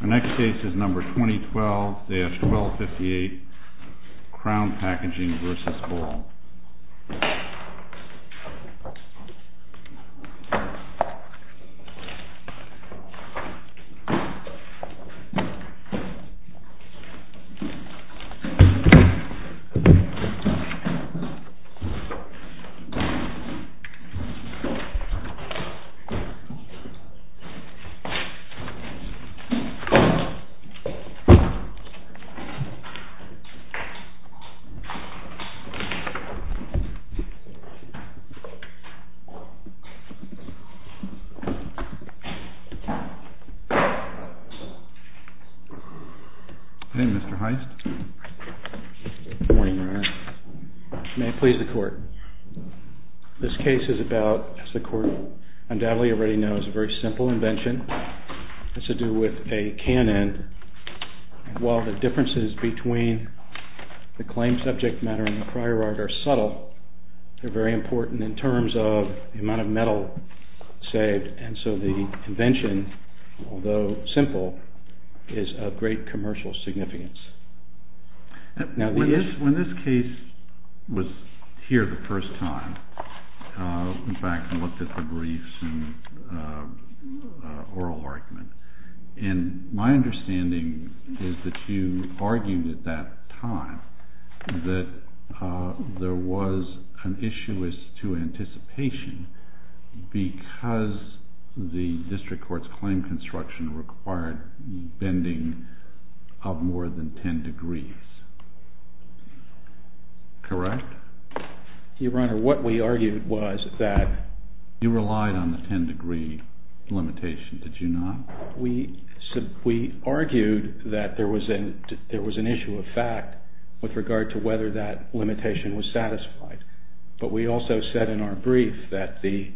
Our next case is number 2012-1258 CROWN PACKAGING v. BALL Hey, Mr. Heist. Good morning, Your Honor. May it please the court. This case is about, as the court undoubtedly already knows, a very simple invention. It's to do with a cannon. While the differences between the claimed subject matter and the prior art are subtle, they're very important in terms of the amount of metal saved. And so the invention, although simple, is of great commercial significance. When this case was here the first time, in fact, I looked at the briefs and oral argument, and my understanding is that you argued at that time that there was an issue as to anticipation because the district court's claim construction required bending of more than 10 degrees. Correct? Your Honor, what we argued was that... You relied on the 10 degree limitation, did you not? We argued that there was an issue of fact with regard to whether that limitation was satisfied. But we also said in our brief that the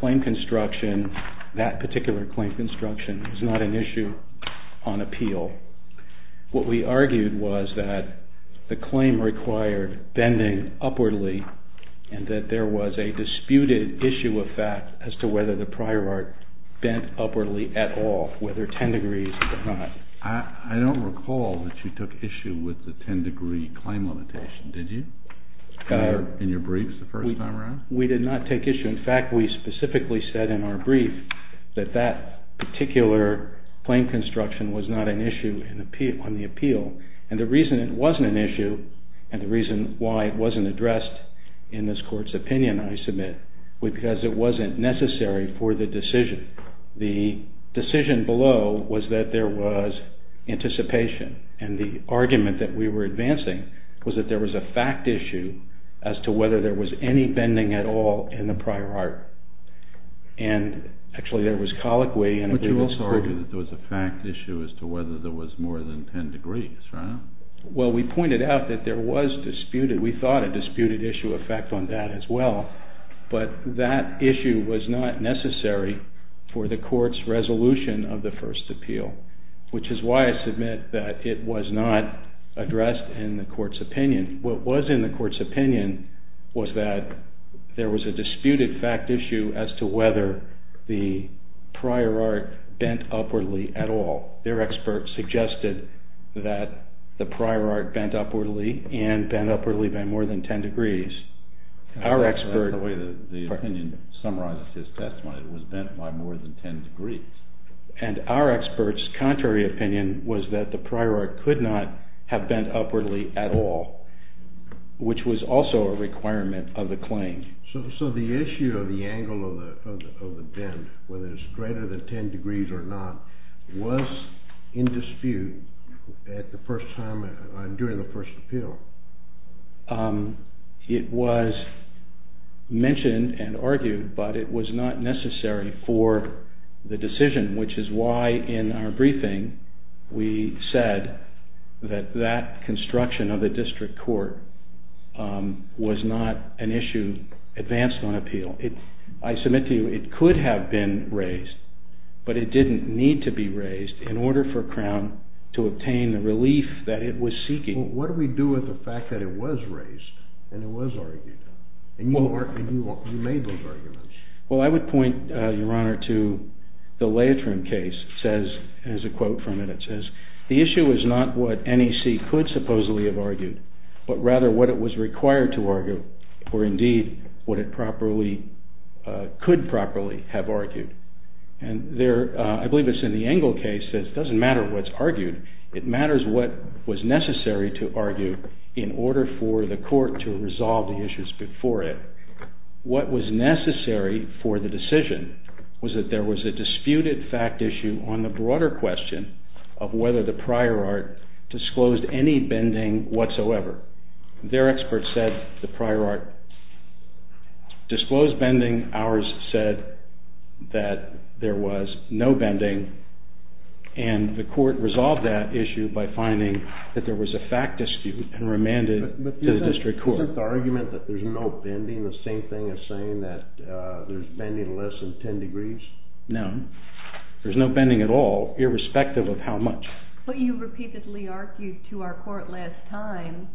claim construction, that particular claim construction, was not an issue on appeal. What we argued was that the claim required bending upwardly and that there was a disputed issue of fact as to whether the prior art bent upwardly at all, whether 10 degrees or not. I don't recall that you took issue with the 10 degree claim limitation, did you? In your briefs the first time around? We did not take issue. In fact, we specifically said in our brief that that particular claim construction was not an issue on the appeal. And the reason it wasn't an issue and the reason why it wasn't addressed in this court's opinion, I submit, was because it wasn't necessary for the decision. The decision below was that there was anticipation. And the argument that we were advancing was that there was a fact issue as to whether there was any bending at all in the prior art. And actually there was colloquy... But you also argued that there was a fact issue as to whether there was more than 10 degrees, right? Well, we pointed out that there was disputed, we thought, a disputed issue of fact on that as well. But that issue was not necessary for the court's resolution of the first appeal, which is why I submit that it was not addressed in the court's opinion. What was in the court's opinion was that there was a disputed fact issue as to whether the prior art bent upwardly at all. Their expert suggested that the prior art bent upwardly and bent upwardly by more than 10 degrees. The way the opinion summarizes his testimony, it was bent by more than 10 degrees. And our expert's contrary opinion was that the prior art could not have bent upwardly at all, which was also a requirement of the claim. So the issue of the angle of the bend, whether it's greater than 10 degrees or not, was in dispute at the first time, during the first appeal. It was mentioned and argued, but it was not necessary for the decision, which is why in our briefing we said that that construction of the district court was not an issue advanced on appeal. I submit to you it could have been raised, but it didn't need to be raised in order for Crown to obtain the relief that it was seeking. Well, what do we do with the fact that it was raised and it was argued? And you made those arguments. Well, I would point, Your Honor, to the Leitrim case. It has a quote from it. It says, the issue is not what NEC could supposedly have argued, but rather what it was required to argue, or indeed what it could properly have argued. And I believe it's in the Engel case that it doesn't matter what's argued. It matters what was necessary to argue in order for the court to resolve the issues before it. What was necessary for the decision was that there was a disputed fact issue on the broader question of whether the prior art disclosed any bending whatsoever. Their expert said the prior art disclosed bending. Ours said that there was no bending. And the court resolved that issue by finding that there was a fact dispute and remanded it to the district court. Isn't the argument that there's no bending the same thing as saying that there's bending less than 10 degrees? No. There's no bending at all, irrespective of how much. But you repeatedly argued to our court last time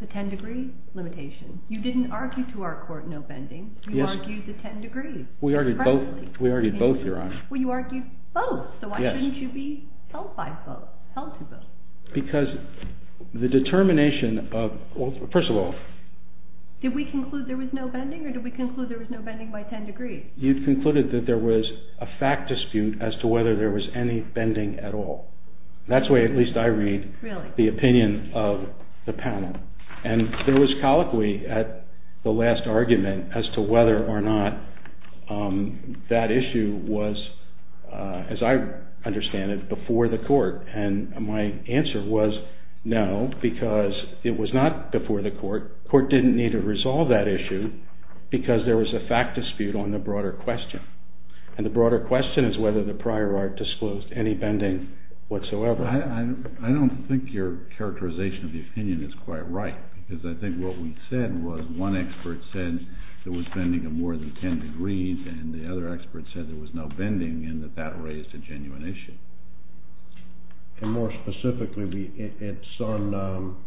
the 10-degree limitation. You didn't argue to our court no bending. You argued the 10 degrees. We argued both, Your Honor. Well, you argued both. So why shouldn't you be held by both, held to both? Because the determination of, well, first of all... Did we conclude there was no bending or did we conclude there was no bending by 10 degrees? You concluded that there was a fact dispute as to whether there was any bending at all. That's the way at least I read the opinion of the panel. And there was colloquy at the last argument as to whether or not that issue was, as I understand it, before the court. And my answer was no, because it was not before the court. The court didn't need to resolve that issue because there was a fact dispute on the broader question. And the broader question is whether the prior art disclosed any bending whatsoever. I don't think your characterization of the opinion is quite right because I think what we said was one expert said there was bending of more than 10 degrees and the other expert said there was no bending and that that raised a genuine issue. And more specifically, it's on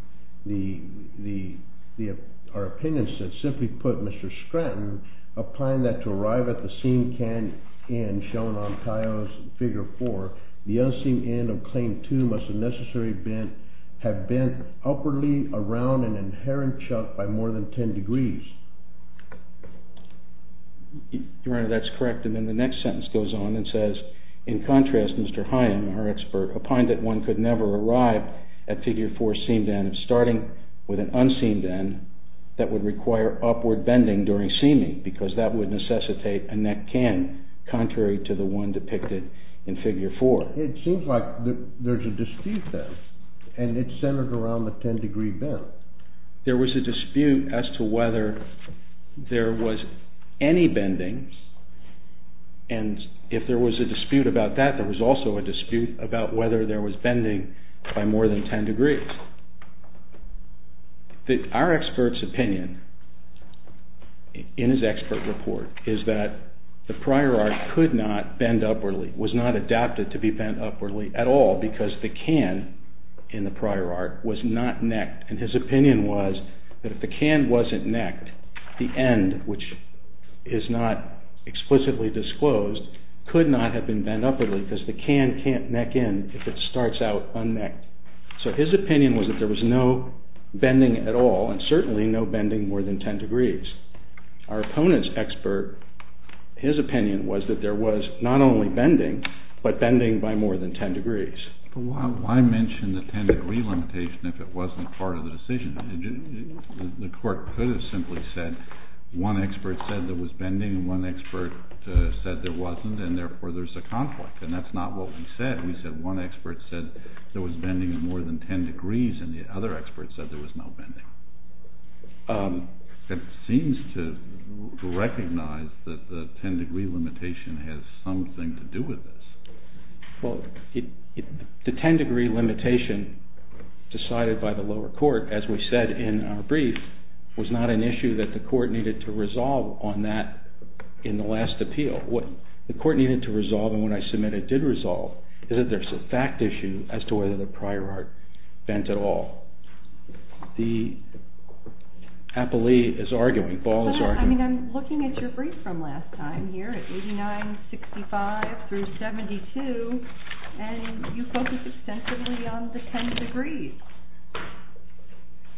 our opinion that simply put, Mr. Scranton, a plan that to arrive at the seam can end shown on Tio's Figure 4, the unseen end of Claim 2 must have necessarily have bent upwardly around an inherent chuck by more than 10 degrees. Your Honor, that's correct. And then the next sentence goes on and says, In contrast, Mr. Hyam, our expert, opined that one could never arrive at Figure 4's seamed end starting with an unseen end that would require upward bending during seaming because that would necessitate a neck can contrary to the one depicted in Figure 4. It seems like there's a dispute then and it's centered around the 10 degree bend. There was a dispute as to whether there was any bending and if there was a dispute about that, there was also a dispute about whether there was bending by more than 10 degrees. Our expert's opinion in his expert report is that the prior art could not bend upwardly, was not adapted to be bent upwardly at all because the can in the prior art was not necked and his opinion was that if the can wasn't necked, the end, which is not explicitly disclosed, could not have been bent upwardly because the can can't neck in if it starts out unnecked. So his opinion was that there was no bending at all and certainly no bending more than 10 degrees. Our opponent's expert, his opinion was that there was not only bending, but bending by more than 10 degrees. Why mention the 10 degree limitation if it wasn't part of the decision? The court could have simply said one expert said there was bending and one expert said there wasn't and therefore there's a conflict and that's not what we said. We said one expert said there was bending in more than 10 degrees and the other expert said there was no bending. It seems to recognize that the 10 degree limitation has something to do with this. Well, the 10 degree limitation decided by the lower court, as we said in our brief, was not an issue that the court needed to resolve on that in the last appeal. What the court needed to resolve and what I submitted did resolve is that there's a fact issue as to whether the prior art bent at all. The appellee is arguing. Paul is arguing. I'm looking at your brief from last time here at 89-65 through 72 and you focus extensively on the 10 degrees.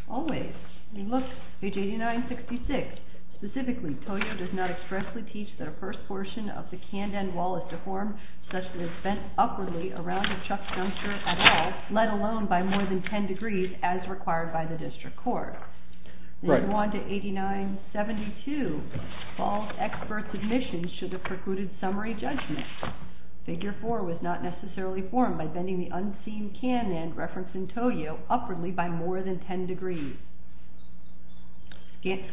Always. Look, page 89-66. Specifically, Toyo does not expressly teach that a first portion of the canden wall is deformed such that it is bent upwardly around a chuck juncture at all, let alone by more than 10 degrees as required by the district court. Right. In Wanda 89-72, Paul's expert submission should have precluded summary judgment. Figure 4 was not necessarily formed by bending the unseen can end referenced in Toyo upwardly by more than 10 degrees.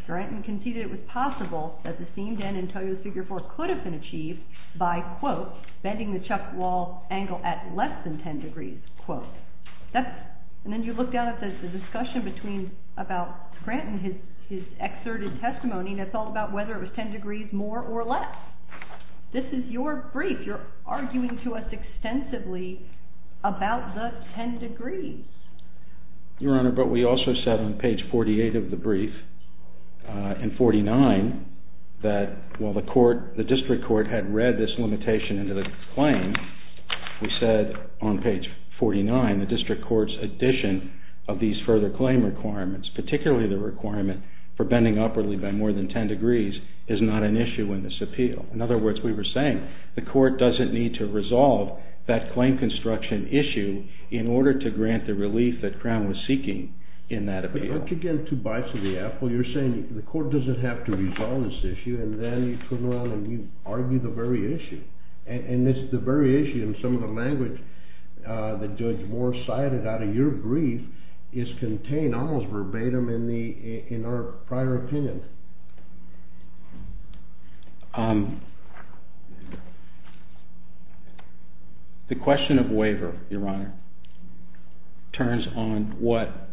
Granton conceded it was possible that the seamed end in Toyo's figure 4 could have been achieved by, quote, bending the chuck wall angle at less than 10 degrees, quote. And then you look down at the discussion about Granton, his excerpted testimony, and it's all about whether it was 10 degrees more or less. This is your brief. You're arguing to us extensively about the 10 degrees. Your Honor, but we also said on page 48 of the brief, in 49, that while the district court had read this limitation into the claim, we said on page 49 the district court's addition of these further claim requirements, particularly the requirement for bending upwardly by more than 10 degrees, is not an issue in this appeal. In other words, we were saying the court doesn't need to resolve that claim construction issue in order to grant the relief that Crown was seeking in that appeal. Look again at two bites of the apple. You're saying the court doesn't have to resolve this issue, and then you turn around and you argue the very issue. And it's the very issue in some of the language that Judge Moore cited out of your brief is contained almost verbatim in our prior opinion. The question of waiver, Your Honor, turns on what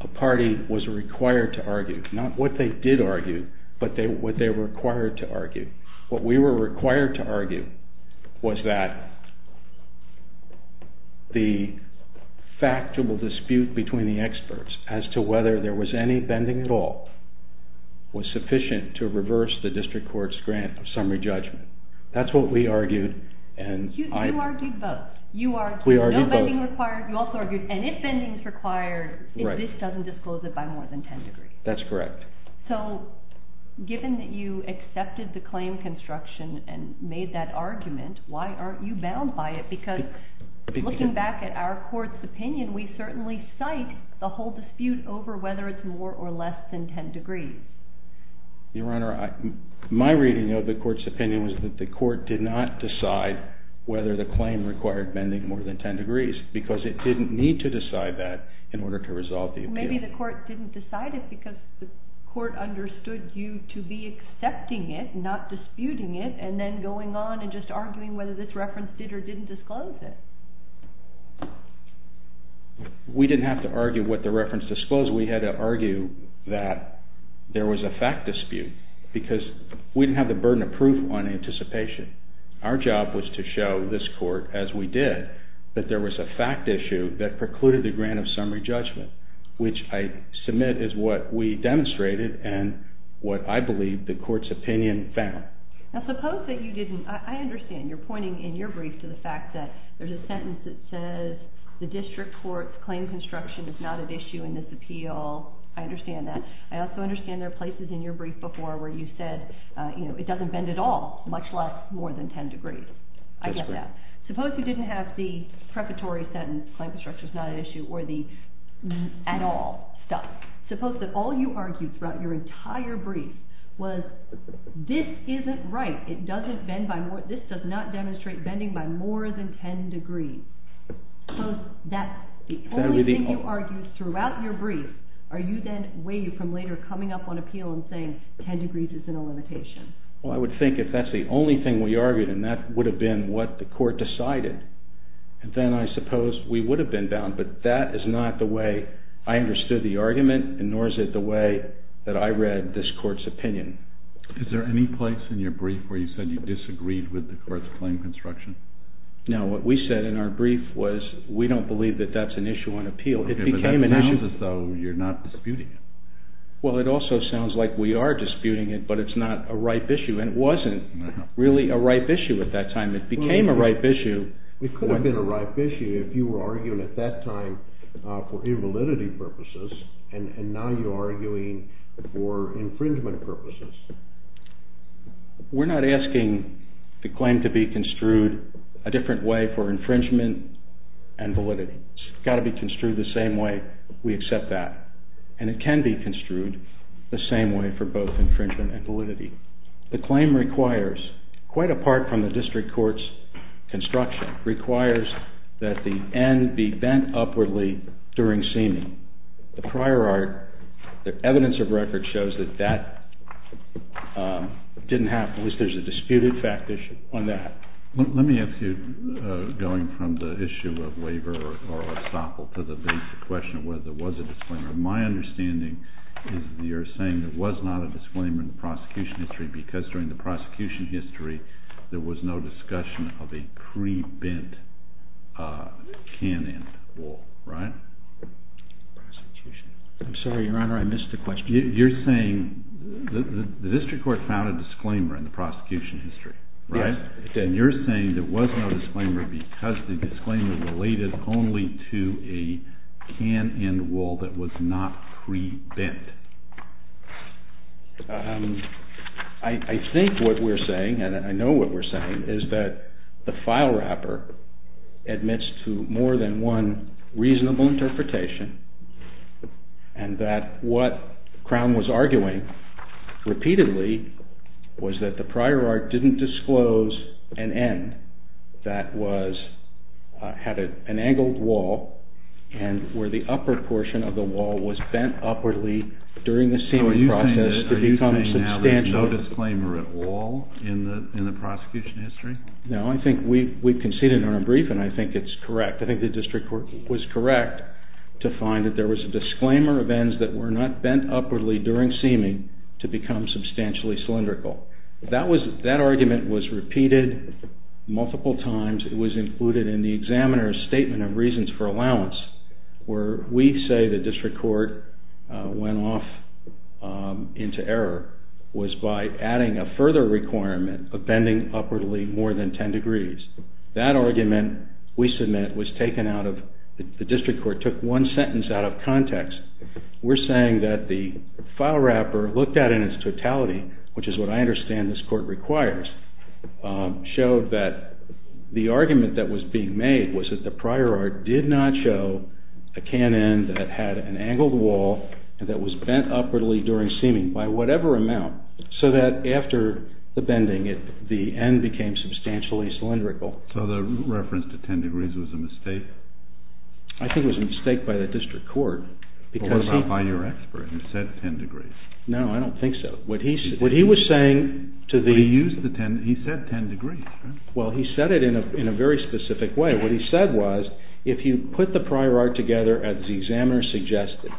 a party was required to argue. Not what they did argue, but what they were required to argue. What we were required to argue was that the factual dispute between the experts as to whether there was any bending at all was sufficient to reverse the district court's grant of summary judgment. That's what we argued. You argued both. You argued no bending required. You also argued, and if bending is required, if this doesn't disclose it by more than 10 degrees. That's correct. So given that you accepted the claim construction and made that argument, why aren't you bound by it? Because looking back at our court's opinion, we certainly cite the whole dispute over whether it's more or less than 10 degrees. Your Honor, my reading of the court's opinion was that the court did not decide whether the claim required bending more than 10 degrees because it didn't need to decide that in order to resolve the appeal. Maybe the court didn't decide it because the court understood you to be accepting it, not disputing it, and then going on and just arguing whether this reference did or didn't disclose it. We didn't have to argue what the reference disclosed. We had to argue that there was a fact dispute because we didn't have the burden of proof on anticipation. Our job was to show this court, as we did, that there was a fact issue that precluded the grant of summary judgment, which I submit is what we demonstrated and what I believe the court's opinion found. Okay. Now suppose that you didn't... I understand you're pointing in your brief to the fact that there's a sentence that says the district court's claim construction is not at issue in this appeal. I understand that. I also understand there are places in your brief before where you said it doesn't bend at all, much less more than 10 degrees. I get that. Suppose you didn't have the preparatory sentence, claim construction is not at issue, or the at all stuff. Suppose that all you argued throughout your entire brief was this isn't right. This does not demonstrate bending by more than 10 degrees. Suppose that's the only thing you argued throughout your brief. Are you then way from later coming up on appeal and saying 10 degrees is in a limitation? Well, I would think if that's the only thing we argued and that would have been what the court decided, then I suppose we would have been bound. But that is not the way I understood the argument and nor is it the way that I read this court's opinion. Is there any place in your brief where you said you disagreed with the court's claim construction? No, what we said in our brief was we don't believe that that's an issue on appeal. It became an issue. Okay, but that leaves us, though, you're not disputing it. Well, it also sounds like we are disputing it, but it's not a ripe issue, and it wasn't really a ripe issue at that time. It became a ripe issue. It could have been a ripe issue if you were arguing at that time for invalidity purposes, and now you're arguing for infringement purposes. We're not asking the claim to be construed a different way for infringement and validity. It's got to be construed the same way we accept that, and it can be construed the same way for both infringement and validity. The claim requires, quite apart from the district court's construction, requires that the end be bent upwardly during seaming. The prior art, the evidence of record shows that that didn't happen. At least there's a disputed fact issue on that. Let me ask you, going from the issue of waiver or estoppel to the question of whether there was a disclaimer. My understanding is that you're saying there was not a disclaimer in the prosecution history that there was no discussion of a pre-bent can-end wool, right? I'm sorry, Your Honor, I missed the question. You're saying the district court found a disclaimer in the prosecution history, right? Yes. And you're saying there was no disclaimer because the disclaimer related only to a can-end wool that was not pre-bent. I think what we're saying, and I know what we're saying, is that the file wrapper admits to more than one reasonable interpretation and that what Crown was arguing repeatedly was that the prior art didn't disclose an end that had an angled wall and where the upper portion of the wall was bent upwardly during the seaming process. So are you saying now there's no disclaimer at all in the prosecution history? No, I think we've conceded in our briefing. I think it's correct. I think the district court was correct to find that there was a disclaimer of ends that were not bent upwardly during seaming to become substantially cylindrical. That argument was repeated multiple times. It was included in the examiner's statement of reasons for allowance where we say the district court went off into error was by adding a further requirement of bending upwardly more than 10 degrees. That argument, we submit, was taken out of the district court, took one sentence out of context. We're saying that the file wrapper looked at in its totality, which is what I understand this court requires, showed that the argument that was being made was that the prior art did not show a can end that had an angled wall and that was bent upwardly during seaming by whatever amount so that after the bending, the end became substantially cylindrical. So the reference to 10 degrees was a mistake? I think it was a mistake by the district court. What about by your expert who said 10 degrees? No, I don't think so. What he was saying to the… But he said 10 degrees. Well, he said it in a very specific way. What he said was if you put the prior art together as the examiner suggested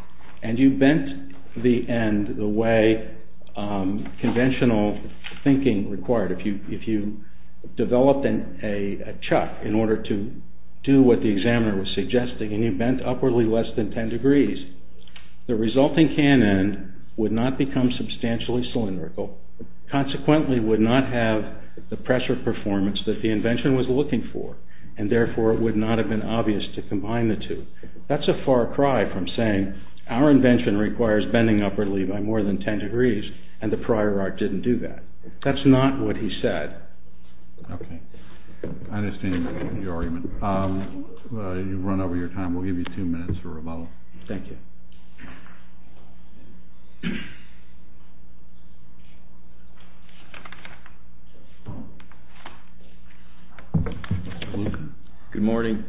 and you bent the end the way conventional thinking required, if you developed a chuck in order to do what the examiner was suggesting and you bent upwardly less than 10 degrees, the resulting can end would not become substantially cylindrical, consequently would not have the pressure performance that the invention was looking for, and therefore it would not have been obvious to combine the two. That's a far cry from saying our invention requires bending upwardly by more than 10 degrees and the prior art didn't do that. That's not what he said. Okay. I understand your argument. You've run over your time. We'll give you two minutes for rebuttal. Thank you. Mr. Lucan. Good morning.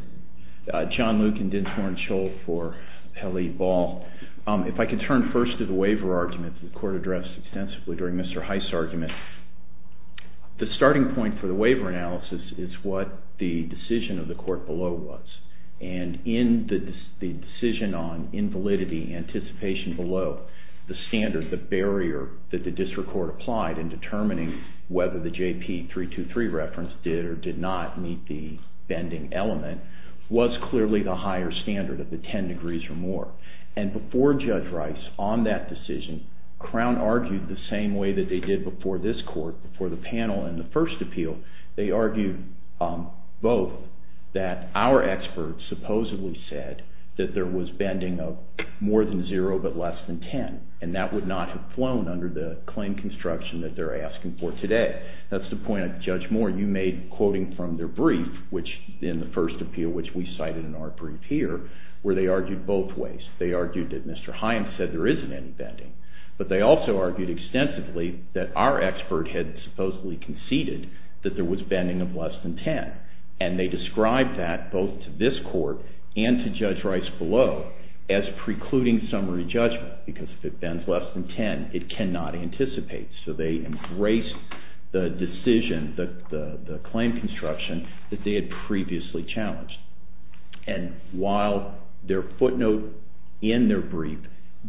John Lucan, Dinsmore & Scholl for Kelly Ball. If I could turn first to the waiver argument that the court addressed extensively during Mr. Heist's argument. The starting point for the waiver analysis is what the decision of the court below was, and in the decision on invalidity anticipation below, the standard, the barrier that the district court applied in determining whether the JP 323 reference did or did not meet the bending element was clearly the higher standard of the 10 degrees or more. And before Judge Rice on that decision, Crown argued the same way that they did before this court, before the panel in the first appeal. They argued both that our experts supposedly said that there was bending of more than zero but less than 10, and that would not have flown under the claim construction that they're asking for today. That's the point of Judge Moore. You made quoting from their brief, which in the first appeal, which we cited in our brief here, where they argued both ways. They argued that Mr. Heist said there isn't any bending, but they also argued extensively that our expert had supposedly conceded that there was bending of less than 10, and they described that both to this court and to Judge Rice below as precluding summary judgment because if it bends less than 10, it cannot anticipate. So they embraced the decision, the claim construction that they had previously challenged. And while their footnote in their brief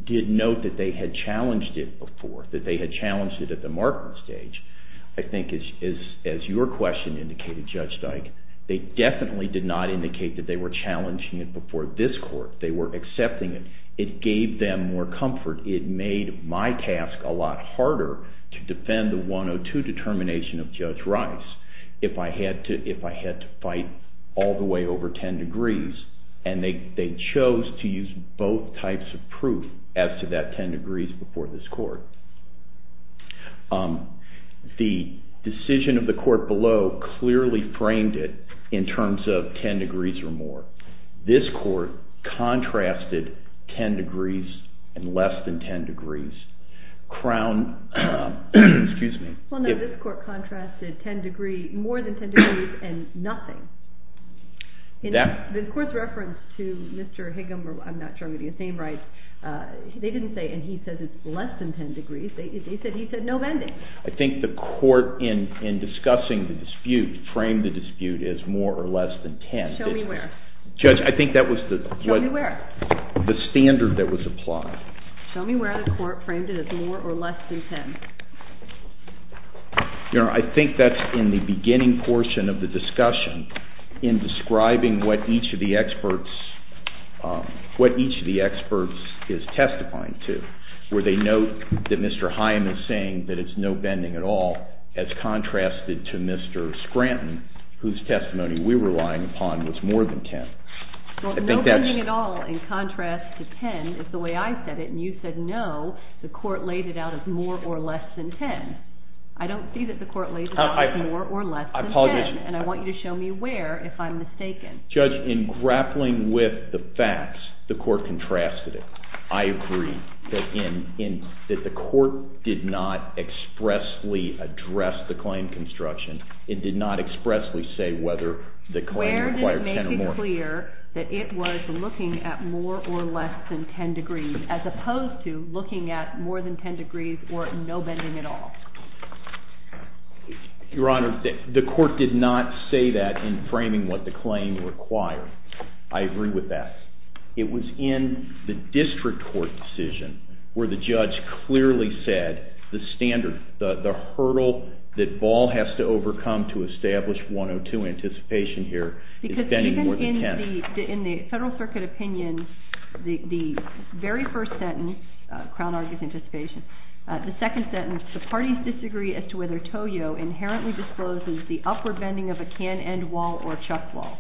did note that they had challenged it before, that they had challenged it at the marking stage, I think as your question indicated, Judge Dyke, they definitely did not indicate that they were challenging it before this court. They were accepting it. It gave them more comfort. It made my task a lot harder to defend the 102 determination of Judge Rice if I had to fight all the way over 10 degrees, and they chose to use both types of proof as to that 10 degrees before this court. The decision of the court below clearly framed it in terms of 10 degrees or more. This court contrasted 10 degrees and less than 10 degrees. This court contrasted more than 10 degrees and nothing. The court's reference to Mr. Higgum, I'm not sure I'm getting his name right, they didn't say, and he said it's less than 10 degrees. They said he said no bending. I think the court in discussing the dispute framed the dispute as more or less than 10. Show me where. Judge, I think that was the standard that was applied. Show me where the court framed it as more or less than 10. I think that's in the beginning portion of the discussion in describing what each of the experts is testifying to, where they note that Mr. Hyam is saying that it's no bending at all as contrasted to Mr. Scranton whose testimony we were relying upon was more than 10. No bending at all in contrast to 10 is the way I said it, and you said no, the court laid it out as more or less than 10. I don't see that the court laid it out as more or less than 10, and I want you to show me where if I'm mistaken. Judge, in grappling with the facts, the court contrasted it. I agree that the court did not expressly address the claim construction. It did not expressly say whether the claim required 10 or more. Where did it make it clear that it was looking at more or less than 10 degrees as opposed to looking at more than 10 degrees or no bending at all? Your Honor, the court did not say that in framing what the claim required. I agree with that. It was in the district court decision where the judge clearly said the standard, the hurdle that Ball has to overcome to establish 102 anticipation here is bending more than 10. Because even in the Federal Circuit opinion, the very first sentence, Crown argues anticipation, the second sentence, the parties disagree as to whether Toyo inherently discloses the upward bending of a can-end wall or a chuck wall.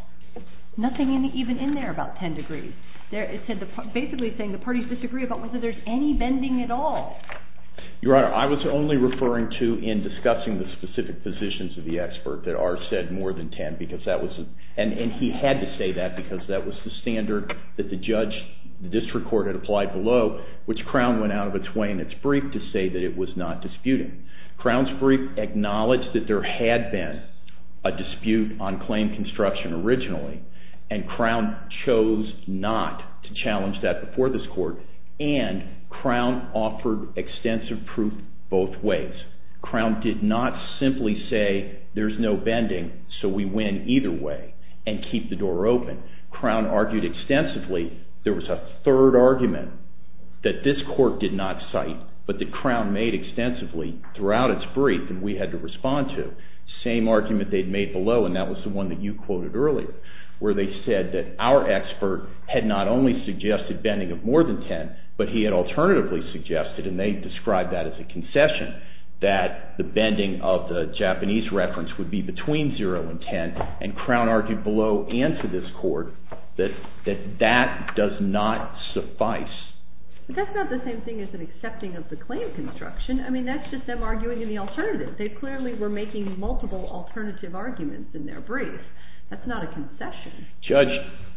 Nothing even in there about 10 degrees. It's basically saying the parties disagree about whether there's any bending at all. Your Honor, I was only referring to in discussing the specific positions of the expert that ours said more than 10, and he had to say that because that was the standard that the district court had applied below, which Crown went out of its way in its brief to say that it was not disputing. Crown's brief acknowledged that there had been a dispute on claim construction originally, and Crown chose not to challenge that before this court, and Crown offered extensive proof both ways. Crown did not simply say there's no bending, so we win either way and keep the door open. Crown argued extensively. There was a third argument that this court did not cite, but that Crown made extensively throughout its brief and we had to respond to. Same argument they'd made below, and that was the one that you quoted earlier, where they said that our expert had not only suggested bending of more than 10, but he had alternatively suggested, and they described that as a concession, that the bending of the Japanese reference would be between 0 and 10, and Crown argued below and to this court that that does not suffice. But that's not the same thing as an accepting of the claim construction. I mean, that's just them arguing in the alternative. They clearly were making multiple alternative arguments in their brief. That's not a concession. Judge,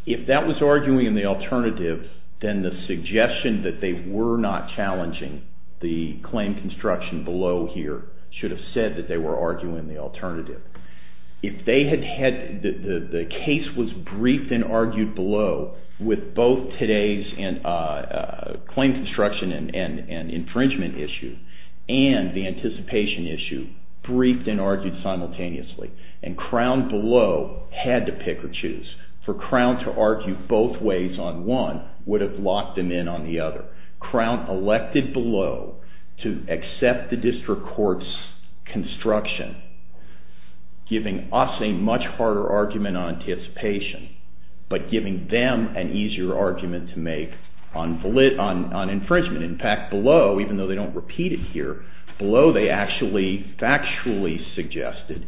if that was arguing in the alternative, then the suggestion that they were not challenging the claim construction below here should have said that they were arguing in the alternative. The case was briefed and argued below with both today's claim construction and infringement issue and the anticipation issue briefed and argued simultaneously, and Crown below had to pick or choose. For Crown to argue both ways on one would have locked them in on the other. Crown elected below to accept the district court's construction, giving us a much harder argument on anticipation, but giving them an easier argument to make on infringement. In fact, below, even though they don't repeat it here, below they actually factually suggested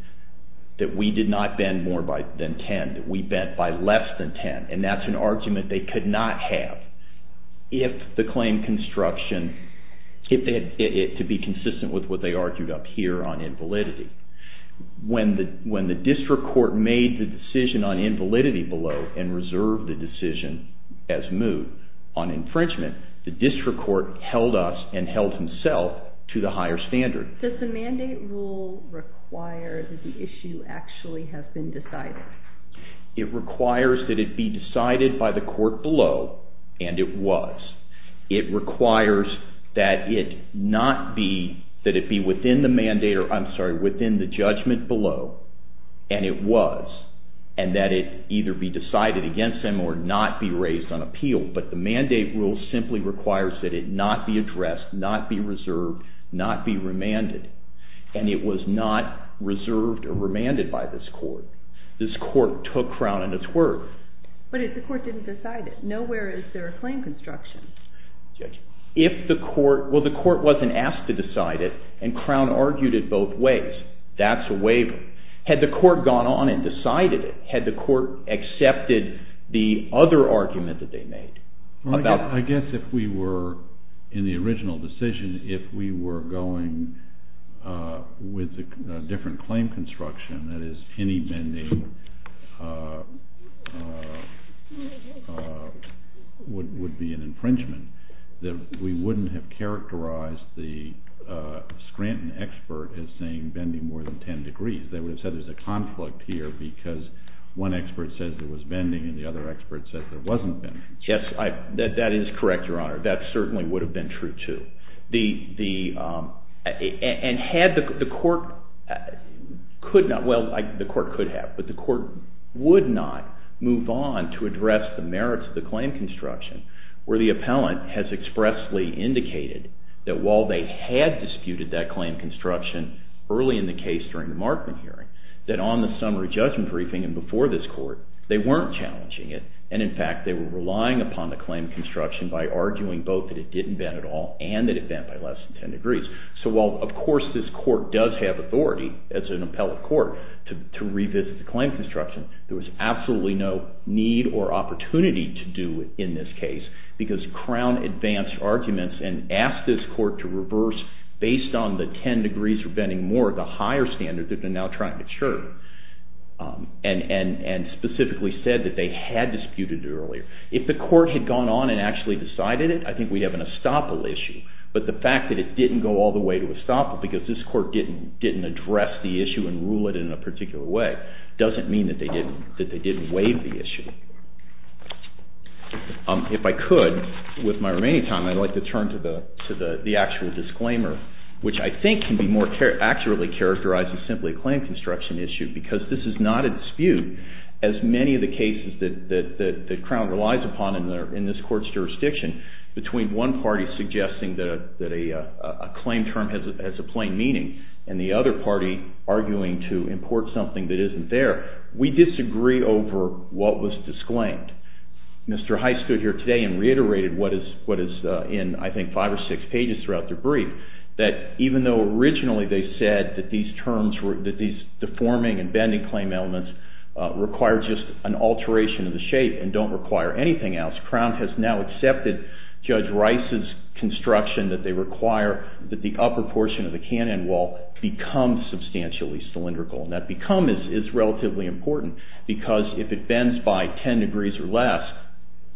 that we did not bend more than 10, that we bent by less than 10, and that's an argument they could not have. If the claim construction, to be consistent with what they argued up here on invalidity, when the district court made the decision on invalidity below and reserved the decision as moved on infringement, the district court held us and held himself to the higher standard. Does the mandate rule require that the issue actually has been decided? It requires that it be decided by the court below, and it was. It requires that it not be, that it be within the mandate, or I'm sorry, within the judgment below, and it was, and that it either be decided against him or not be raised on appeal, but the mandate rule simply requires that it not be addressed, not be reserved, not be remanded, and it was not reserved or remanded by this court. This court took Crown and it's worth. But if the court didn't decide it, nowhere is there a claim construction. If the court, well the court wasn't asked to decide it, and Crown argued it both ways, that's a waiver. Had the court gone on and decided it, had the court accepted the other argument that they made? I guess if we were in the original decision, if we were going with a different claim construction, that is any bending would be an infringement, that we wouldn't have characterized the Scranton expert as saying bending more than 10 degrees. They would have said there's a conflict here because one expert says there was bending and the other expert says there wasn't bending. Yes, that is correct, Your Honor. That certainly would have been true too. And had the court, well the court could have, but the court would not move on to address the merits of the claim construction where the appellant has expressly indicated that while they had disputed that claim construction early in the case during the Markman hearing, that on the summary judgment briefing and before this court, they weren't challenging it and in fact they were relying upon the claim construction by arguing both that it didn't bend at all and that it bent by less than 10 degrees. So while of course this court does have authority as an appellate court to revisit the claim construction, there was absolutely no need or opportunity to do in this case because Crown advanced arguments and asked this court to reverse based on the 10 degrees for bending more, the higher standard that they're now trying to ensure and specifically said that they had disputed it earlier. If the court had gone on and actually decided it, I think we'd have an estoppel issue, but the fact that it didn't go all the way to estoppel because this court didn't address the issue and rule it in a particular way doesn't mean that they didn't waive the issue. If I could, with my remaining time, I'd like to turn to the actual disclaimer, which I think can be more accurately characterized as simply a claim construction issue because this is not a dispute. As many of the cases that Crown relies upon in this court's jurisdiction, between one party suggesting that a claim term has a plain meaning and the other party arguing to import something that isn't there, we disagree over what was disclaimed. Mr. Heist stood here today and reiterated what is in, I think, five or six pages throughout the brief, that even though originally they said that these deforming and bending claim elements require just an alteration of the shape and don't require anything else, Crown has now accepted Judge Rice's construction that they require that the upper portion of the cannon wall become substantially cylindrical. That become is relatively important because if it bends by ten degrees or less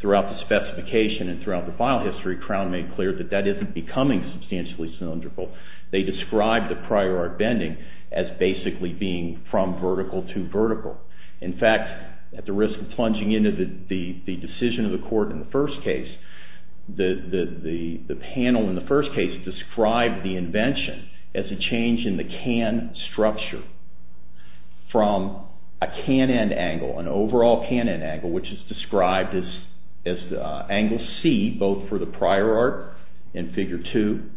throughout the specification and throughout the file history, Crown made clear that that isn't becoming substantially cylindrical. They described the prior art bending as basically being from vertical to vertical. In fact, at the risk of plunging into the decision of the court in the first case, the panel in the first case described the invention as a change in the can structure from a can-end angle, an overall can-end angle, which is described as angle C both for the prior art in figure two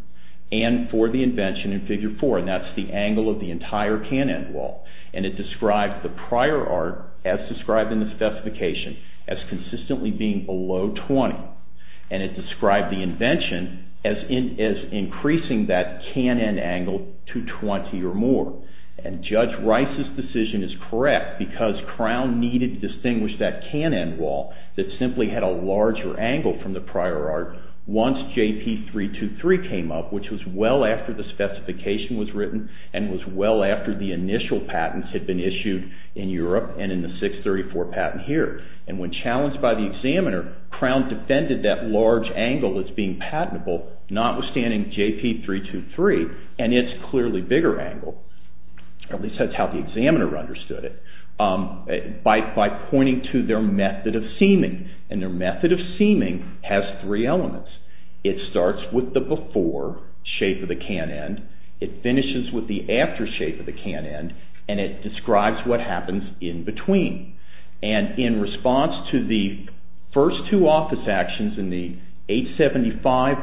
and for the invention in figure four. That's the angle of the entire can-end wall. It describes the prior art as described in the specification as consistently being below 20. It described the invention as increasing that can-end angle to 20 or more. Judge Rice's decision is correct because Crown needed to distinguish that can-end wall that simply had a larger angle from the prior art once JP-323 came up, which was well after the specification was written and was well after the initial patents had been issued in Europe and in the 634 patent here. When challenged by the examiner, Crown defended that large angle as being patentable, notwithstanding JP-323 and its clearly bigger angle. At least that's how the examiner understood it, by pointing to their method of seeming, and their method of seeming has three elements. It starts with the before shape of the can-end, it finishes with the after shape of the can-end, and it describes what happens in between. And in response to the first two office actions in the 875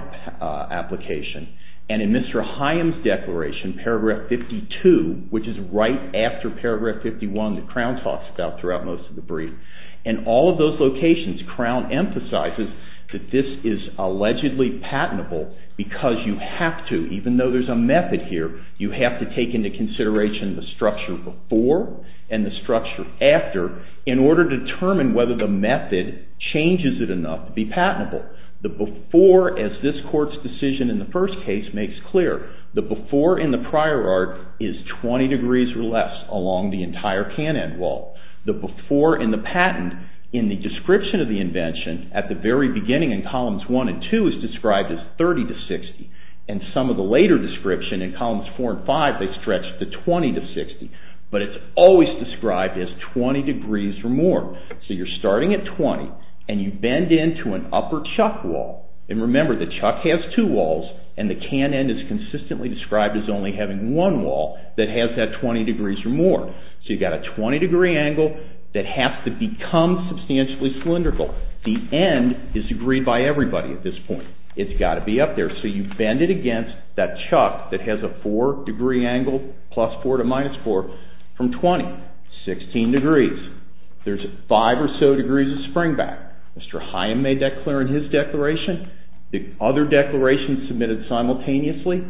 application and in Mr. Haim's declaration, paragraph 52, which is right after paragraph 51 that Crown talks about throughout most of the brief, in all of those locations, Crown emphasizes that this is allegedly patentable because you have to, even though there's a method here, you have to take into consideration the structure before and the structure after in order to determine whether the method changes it enough to be patentable. The before, as this court's decision in the first case makes clear, the before in the prior art is 20 degrees or less along the entire can-end wall. The before in the patent in the description of the invention at the very beginning in columns 1 and 2 is described as 30 to 60, and some of the later description in columns 4 and 5 they stretch to 20 to 60, but it's always described as 20 degrees or more. So you're starting at 20 and you bend into an upper chuck wall, and remember the chuck has two walls and the can-end is consistently described as only having one wall that has that 20 degrees or more. So you've got a 20 degree angle that has to become substantially cylindrical. The end is agreed by everybody at this point. It's got to be up there, so you bend it against that chuck that has a 4 degree angle, plus 4 to minus 4, from 20, 16 degrees. There's 5 or so degrees of springback. Mr. Hyam made that clear in his declaration. The other declaration submitted simultaneously,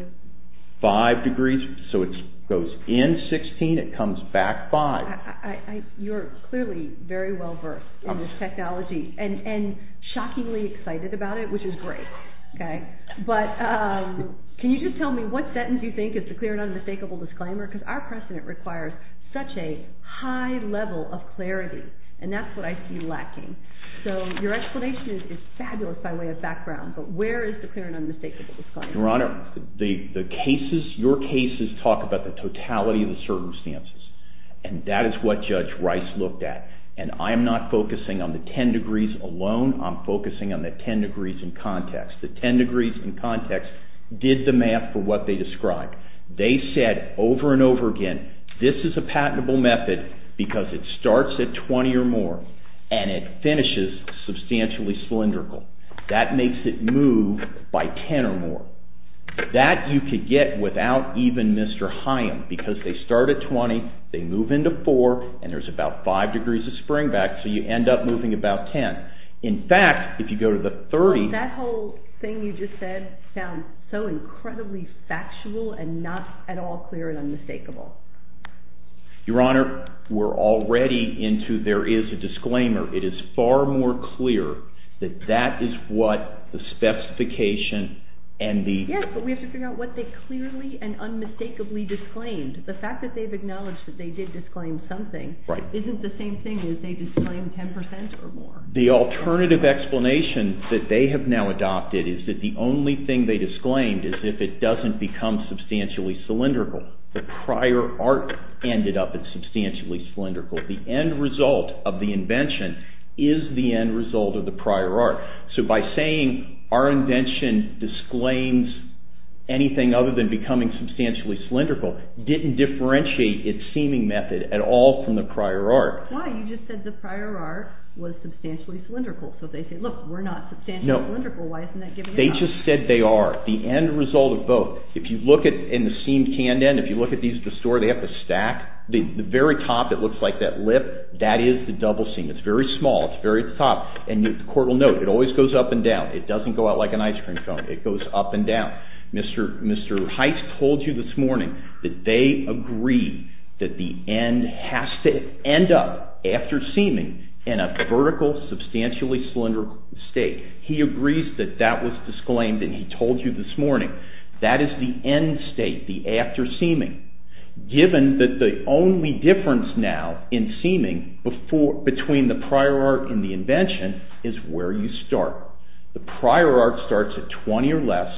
5 degrees, so it goes in 16, it comes back 5. You're clearly very well-versed in this technology and shockingly excited about it, which is great. But can you just tell me what sentence you think is the clear and unmistakable disclaimer? Because our precedent requires such a high level of clarity, and that's what I see lacking. So your explanation is fabulous by way of background, but where is the clear and unmistakable disclaimer? Your Honor, your cases talk about the totality of the circumstances, and that is what Judge Rice looked at. And I am not focusing on the 10 degrees alone, I'm focusing on the 10 degrees in context. The 10 degrees in context did the math for what they described. They said over and over again, this is a patentable method because it starts at 20 or more, and it finishes substantially cylindrical. That makes it move by 10 or more. That you could get without even Mr. Hyam, because they start at 20, they move into 4, and there's about 5 degrees of springback, so you end up moving about 10. In fact, if you go to the 30... Your Honor, we're already into there is a disclaimer. It is far more clear that that is what the specification and the... Yes, but we have to figure out what they clearly and unmistakably disclaimed. The fact that they've acknowledged that they did disclaim something isn't the same thing as they disclaimed 10% or more. The alternative explanation that they have now adopted is that the only thing they disclaimed is if it doesn't become substantially cylindrical. The prior art ended up in substantially cylindrical. The end result of the invention is the end result of the prior art. So by saying our invention disclaims anything other than becoming substantially cylindrical didn't differentiate its seeming method at all from the prior art. Why? You just said the prior art was substantially cylindrical. So they say, look, we're not substantially cylindrical. Why isn't that given out? And they just said they are. The end result of both. If you look in the seam canned end, if you look at these at the store, they have to stack. The very top that looks like that lip, that is the double seam. It's very small. It's very top. And the court will note it always goes up and down. It doesn't go out like an ice cream cone. It goes up and down. Mr. Heitz told you this morning that they agree that the end has to end up, after seaming, in a vertical, substantially cylindrical state. He agrees that that was disclaimed and he told you this morning. That is the end state, the after seaming. Given that the only difference now in seaming between the prior art and the invention is where you start. The prior art starts at 20 or less,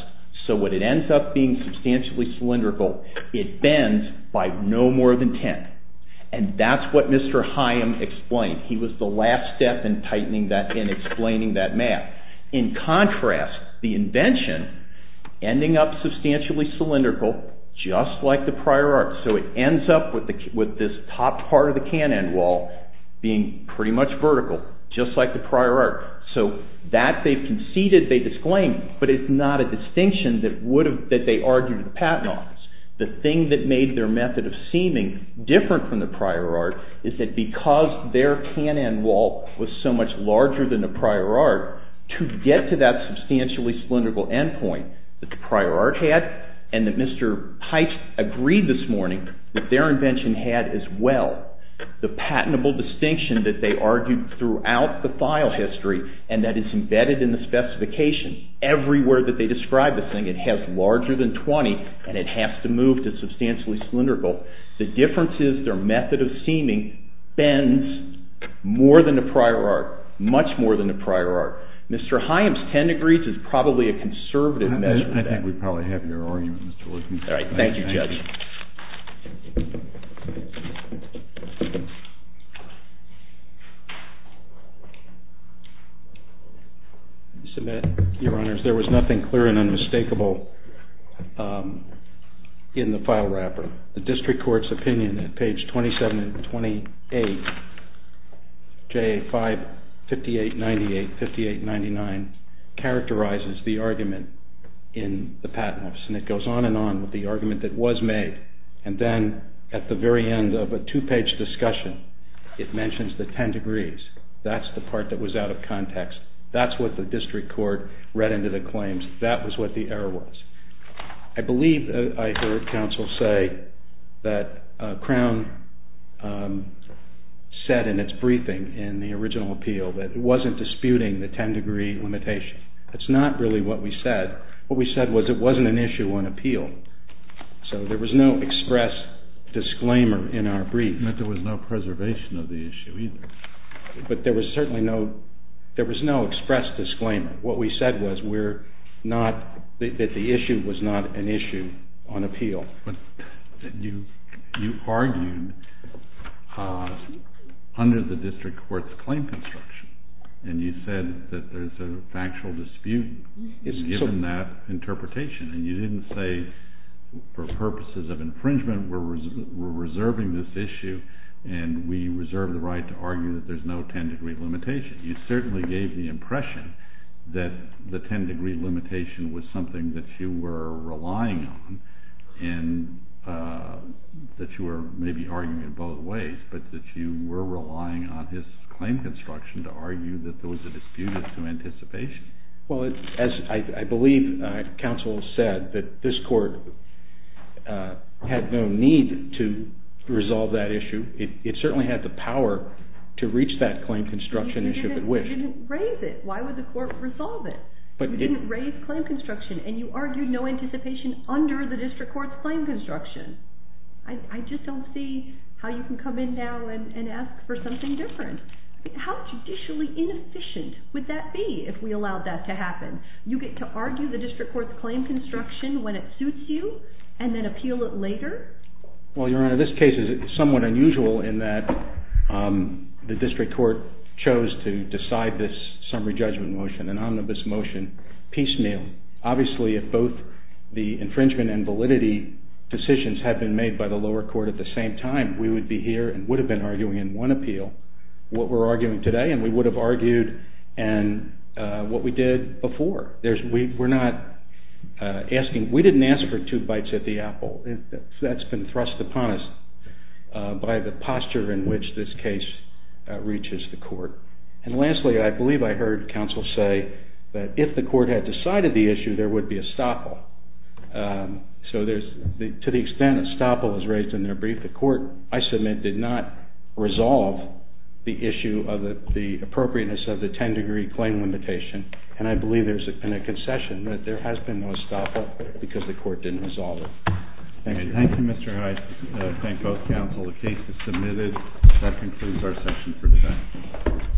so when it ends up being substantially cylindrical, it bends by no more than 10. And that's what Mr. Haim explained. He was the last step in tightening that, in explaining that math. In contrast, the invention, ending up substantially cylindrical, just like the prior art. So it ends up with this top part of the can end wall being pretty much vertical, just like the prior art. So that they've conceded, they've disclaimed, but it's not a distinction that they argued in the patent office. The thing that made their method of seaming different from the prior art is that because their can end wall was so much larger than the prior art, to get to that substantially cylindrical end point that the prior art had, and that Mr. Heist agreed this morning that their invention had as well, the patentable distinction that they argued throughout the file history and that is embedded in the specification everywhere that they describe this thing. It has larger than 20 and it has to move to substantially cylindrical. The difference is their method of seaming bends more than the prior art, much more than the prior art. Mr. Heim's 10 degrees is probably a conservative measure of that. I think we probably have your argument, Mr. Lewis. Thank you, Judge. Your Honors, there was nothing clear and unmistakable in the file wrapper. The district court's opinion at page 27 and 28, J.A. 558.98, 58.99, characterizes the argument in the patent office and it goes on and on with the argument that was made and then at the very end of a two-page discussion it mentions the 10 degrees. That's the part that was out of context. That's what the district court read into the claims. That was what the error was. I believe I heard counsel say that Crown said in its briefing in the original appeal that it wasn't disputing the 10 degree limitation. That's not really what we said. What we said was it wasn't an issue on appeal. So there was no express disclaimer in our brief. That there was no preservation of the issue either. But there was certainly no... There was no express disclaimer. What we said was we're not... that the issue was not an issue on appeal. You argued under the district court's claim construction and you said that there's a factual dispute given that interpretation and you didn't say for purposes of infringement we're reserving this issue and we reserve the right to argue that there's no 10 degree limitation. You certainly gave the impression that the 10 degree limitation was something that you were relying on and that you were maybe arguing in both ways but that you were relying on his claim construction to argue that there was a dispute to anticipation. Well, as I believe counsel said that this court had no need to resolve that issue. It certainly had the power to reach that claim construction if it wished. You didn't raise it. Why would the court resolve it? You didn't raise claim construction and you argued no anticipation under the district court's claim construction. I just don't see how you can come in now and ask for something different. How judicially inefficient would that be if we allowed that to happen? You get to argue the district court's claim construction when it suits you and then appeal it later? Well, Your Honor, this case is somewhat unusual in that the district court chose to decide this summary judgment motion, an omnibus motion, piecemeal. Obviously, if both the infringement and validity decisions had been made by the lower court at the same time we would be here and would have been arguing in one appeal what we're arguing today and we would have argued what we did before. We didn't ask for two bites at the apple. That's been thrust upon us by the posture in which this case reaches the court. And lastly, I believe I heard counsel say that if the court had decided the issue there would be a stopple. So to the extent a stopple is raised in their brief, the court, I submit, did not resolve the issue of the appropriateness of the 10-degree claim limitation and I believe there's been a concession that there has been no stopple because the court didn't resolve it. Thank you. Thank you, Mr. Heiss. Thank both counsel. The case is submitted. That concludes our session for today.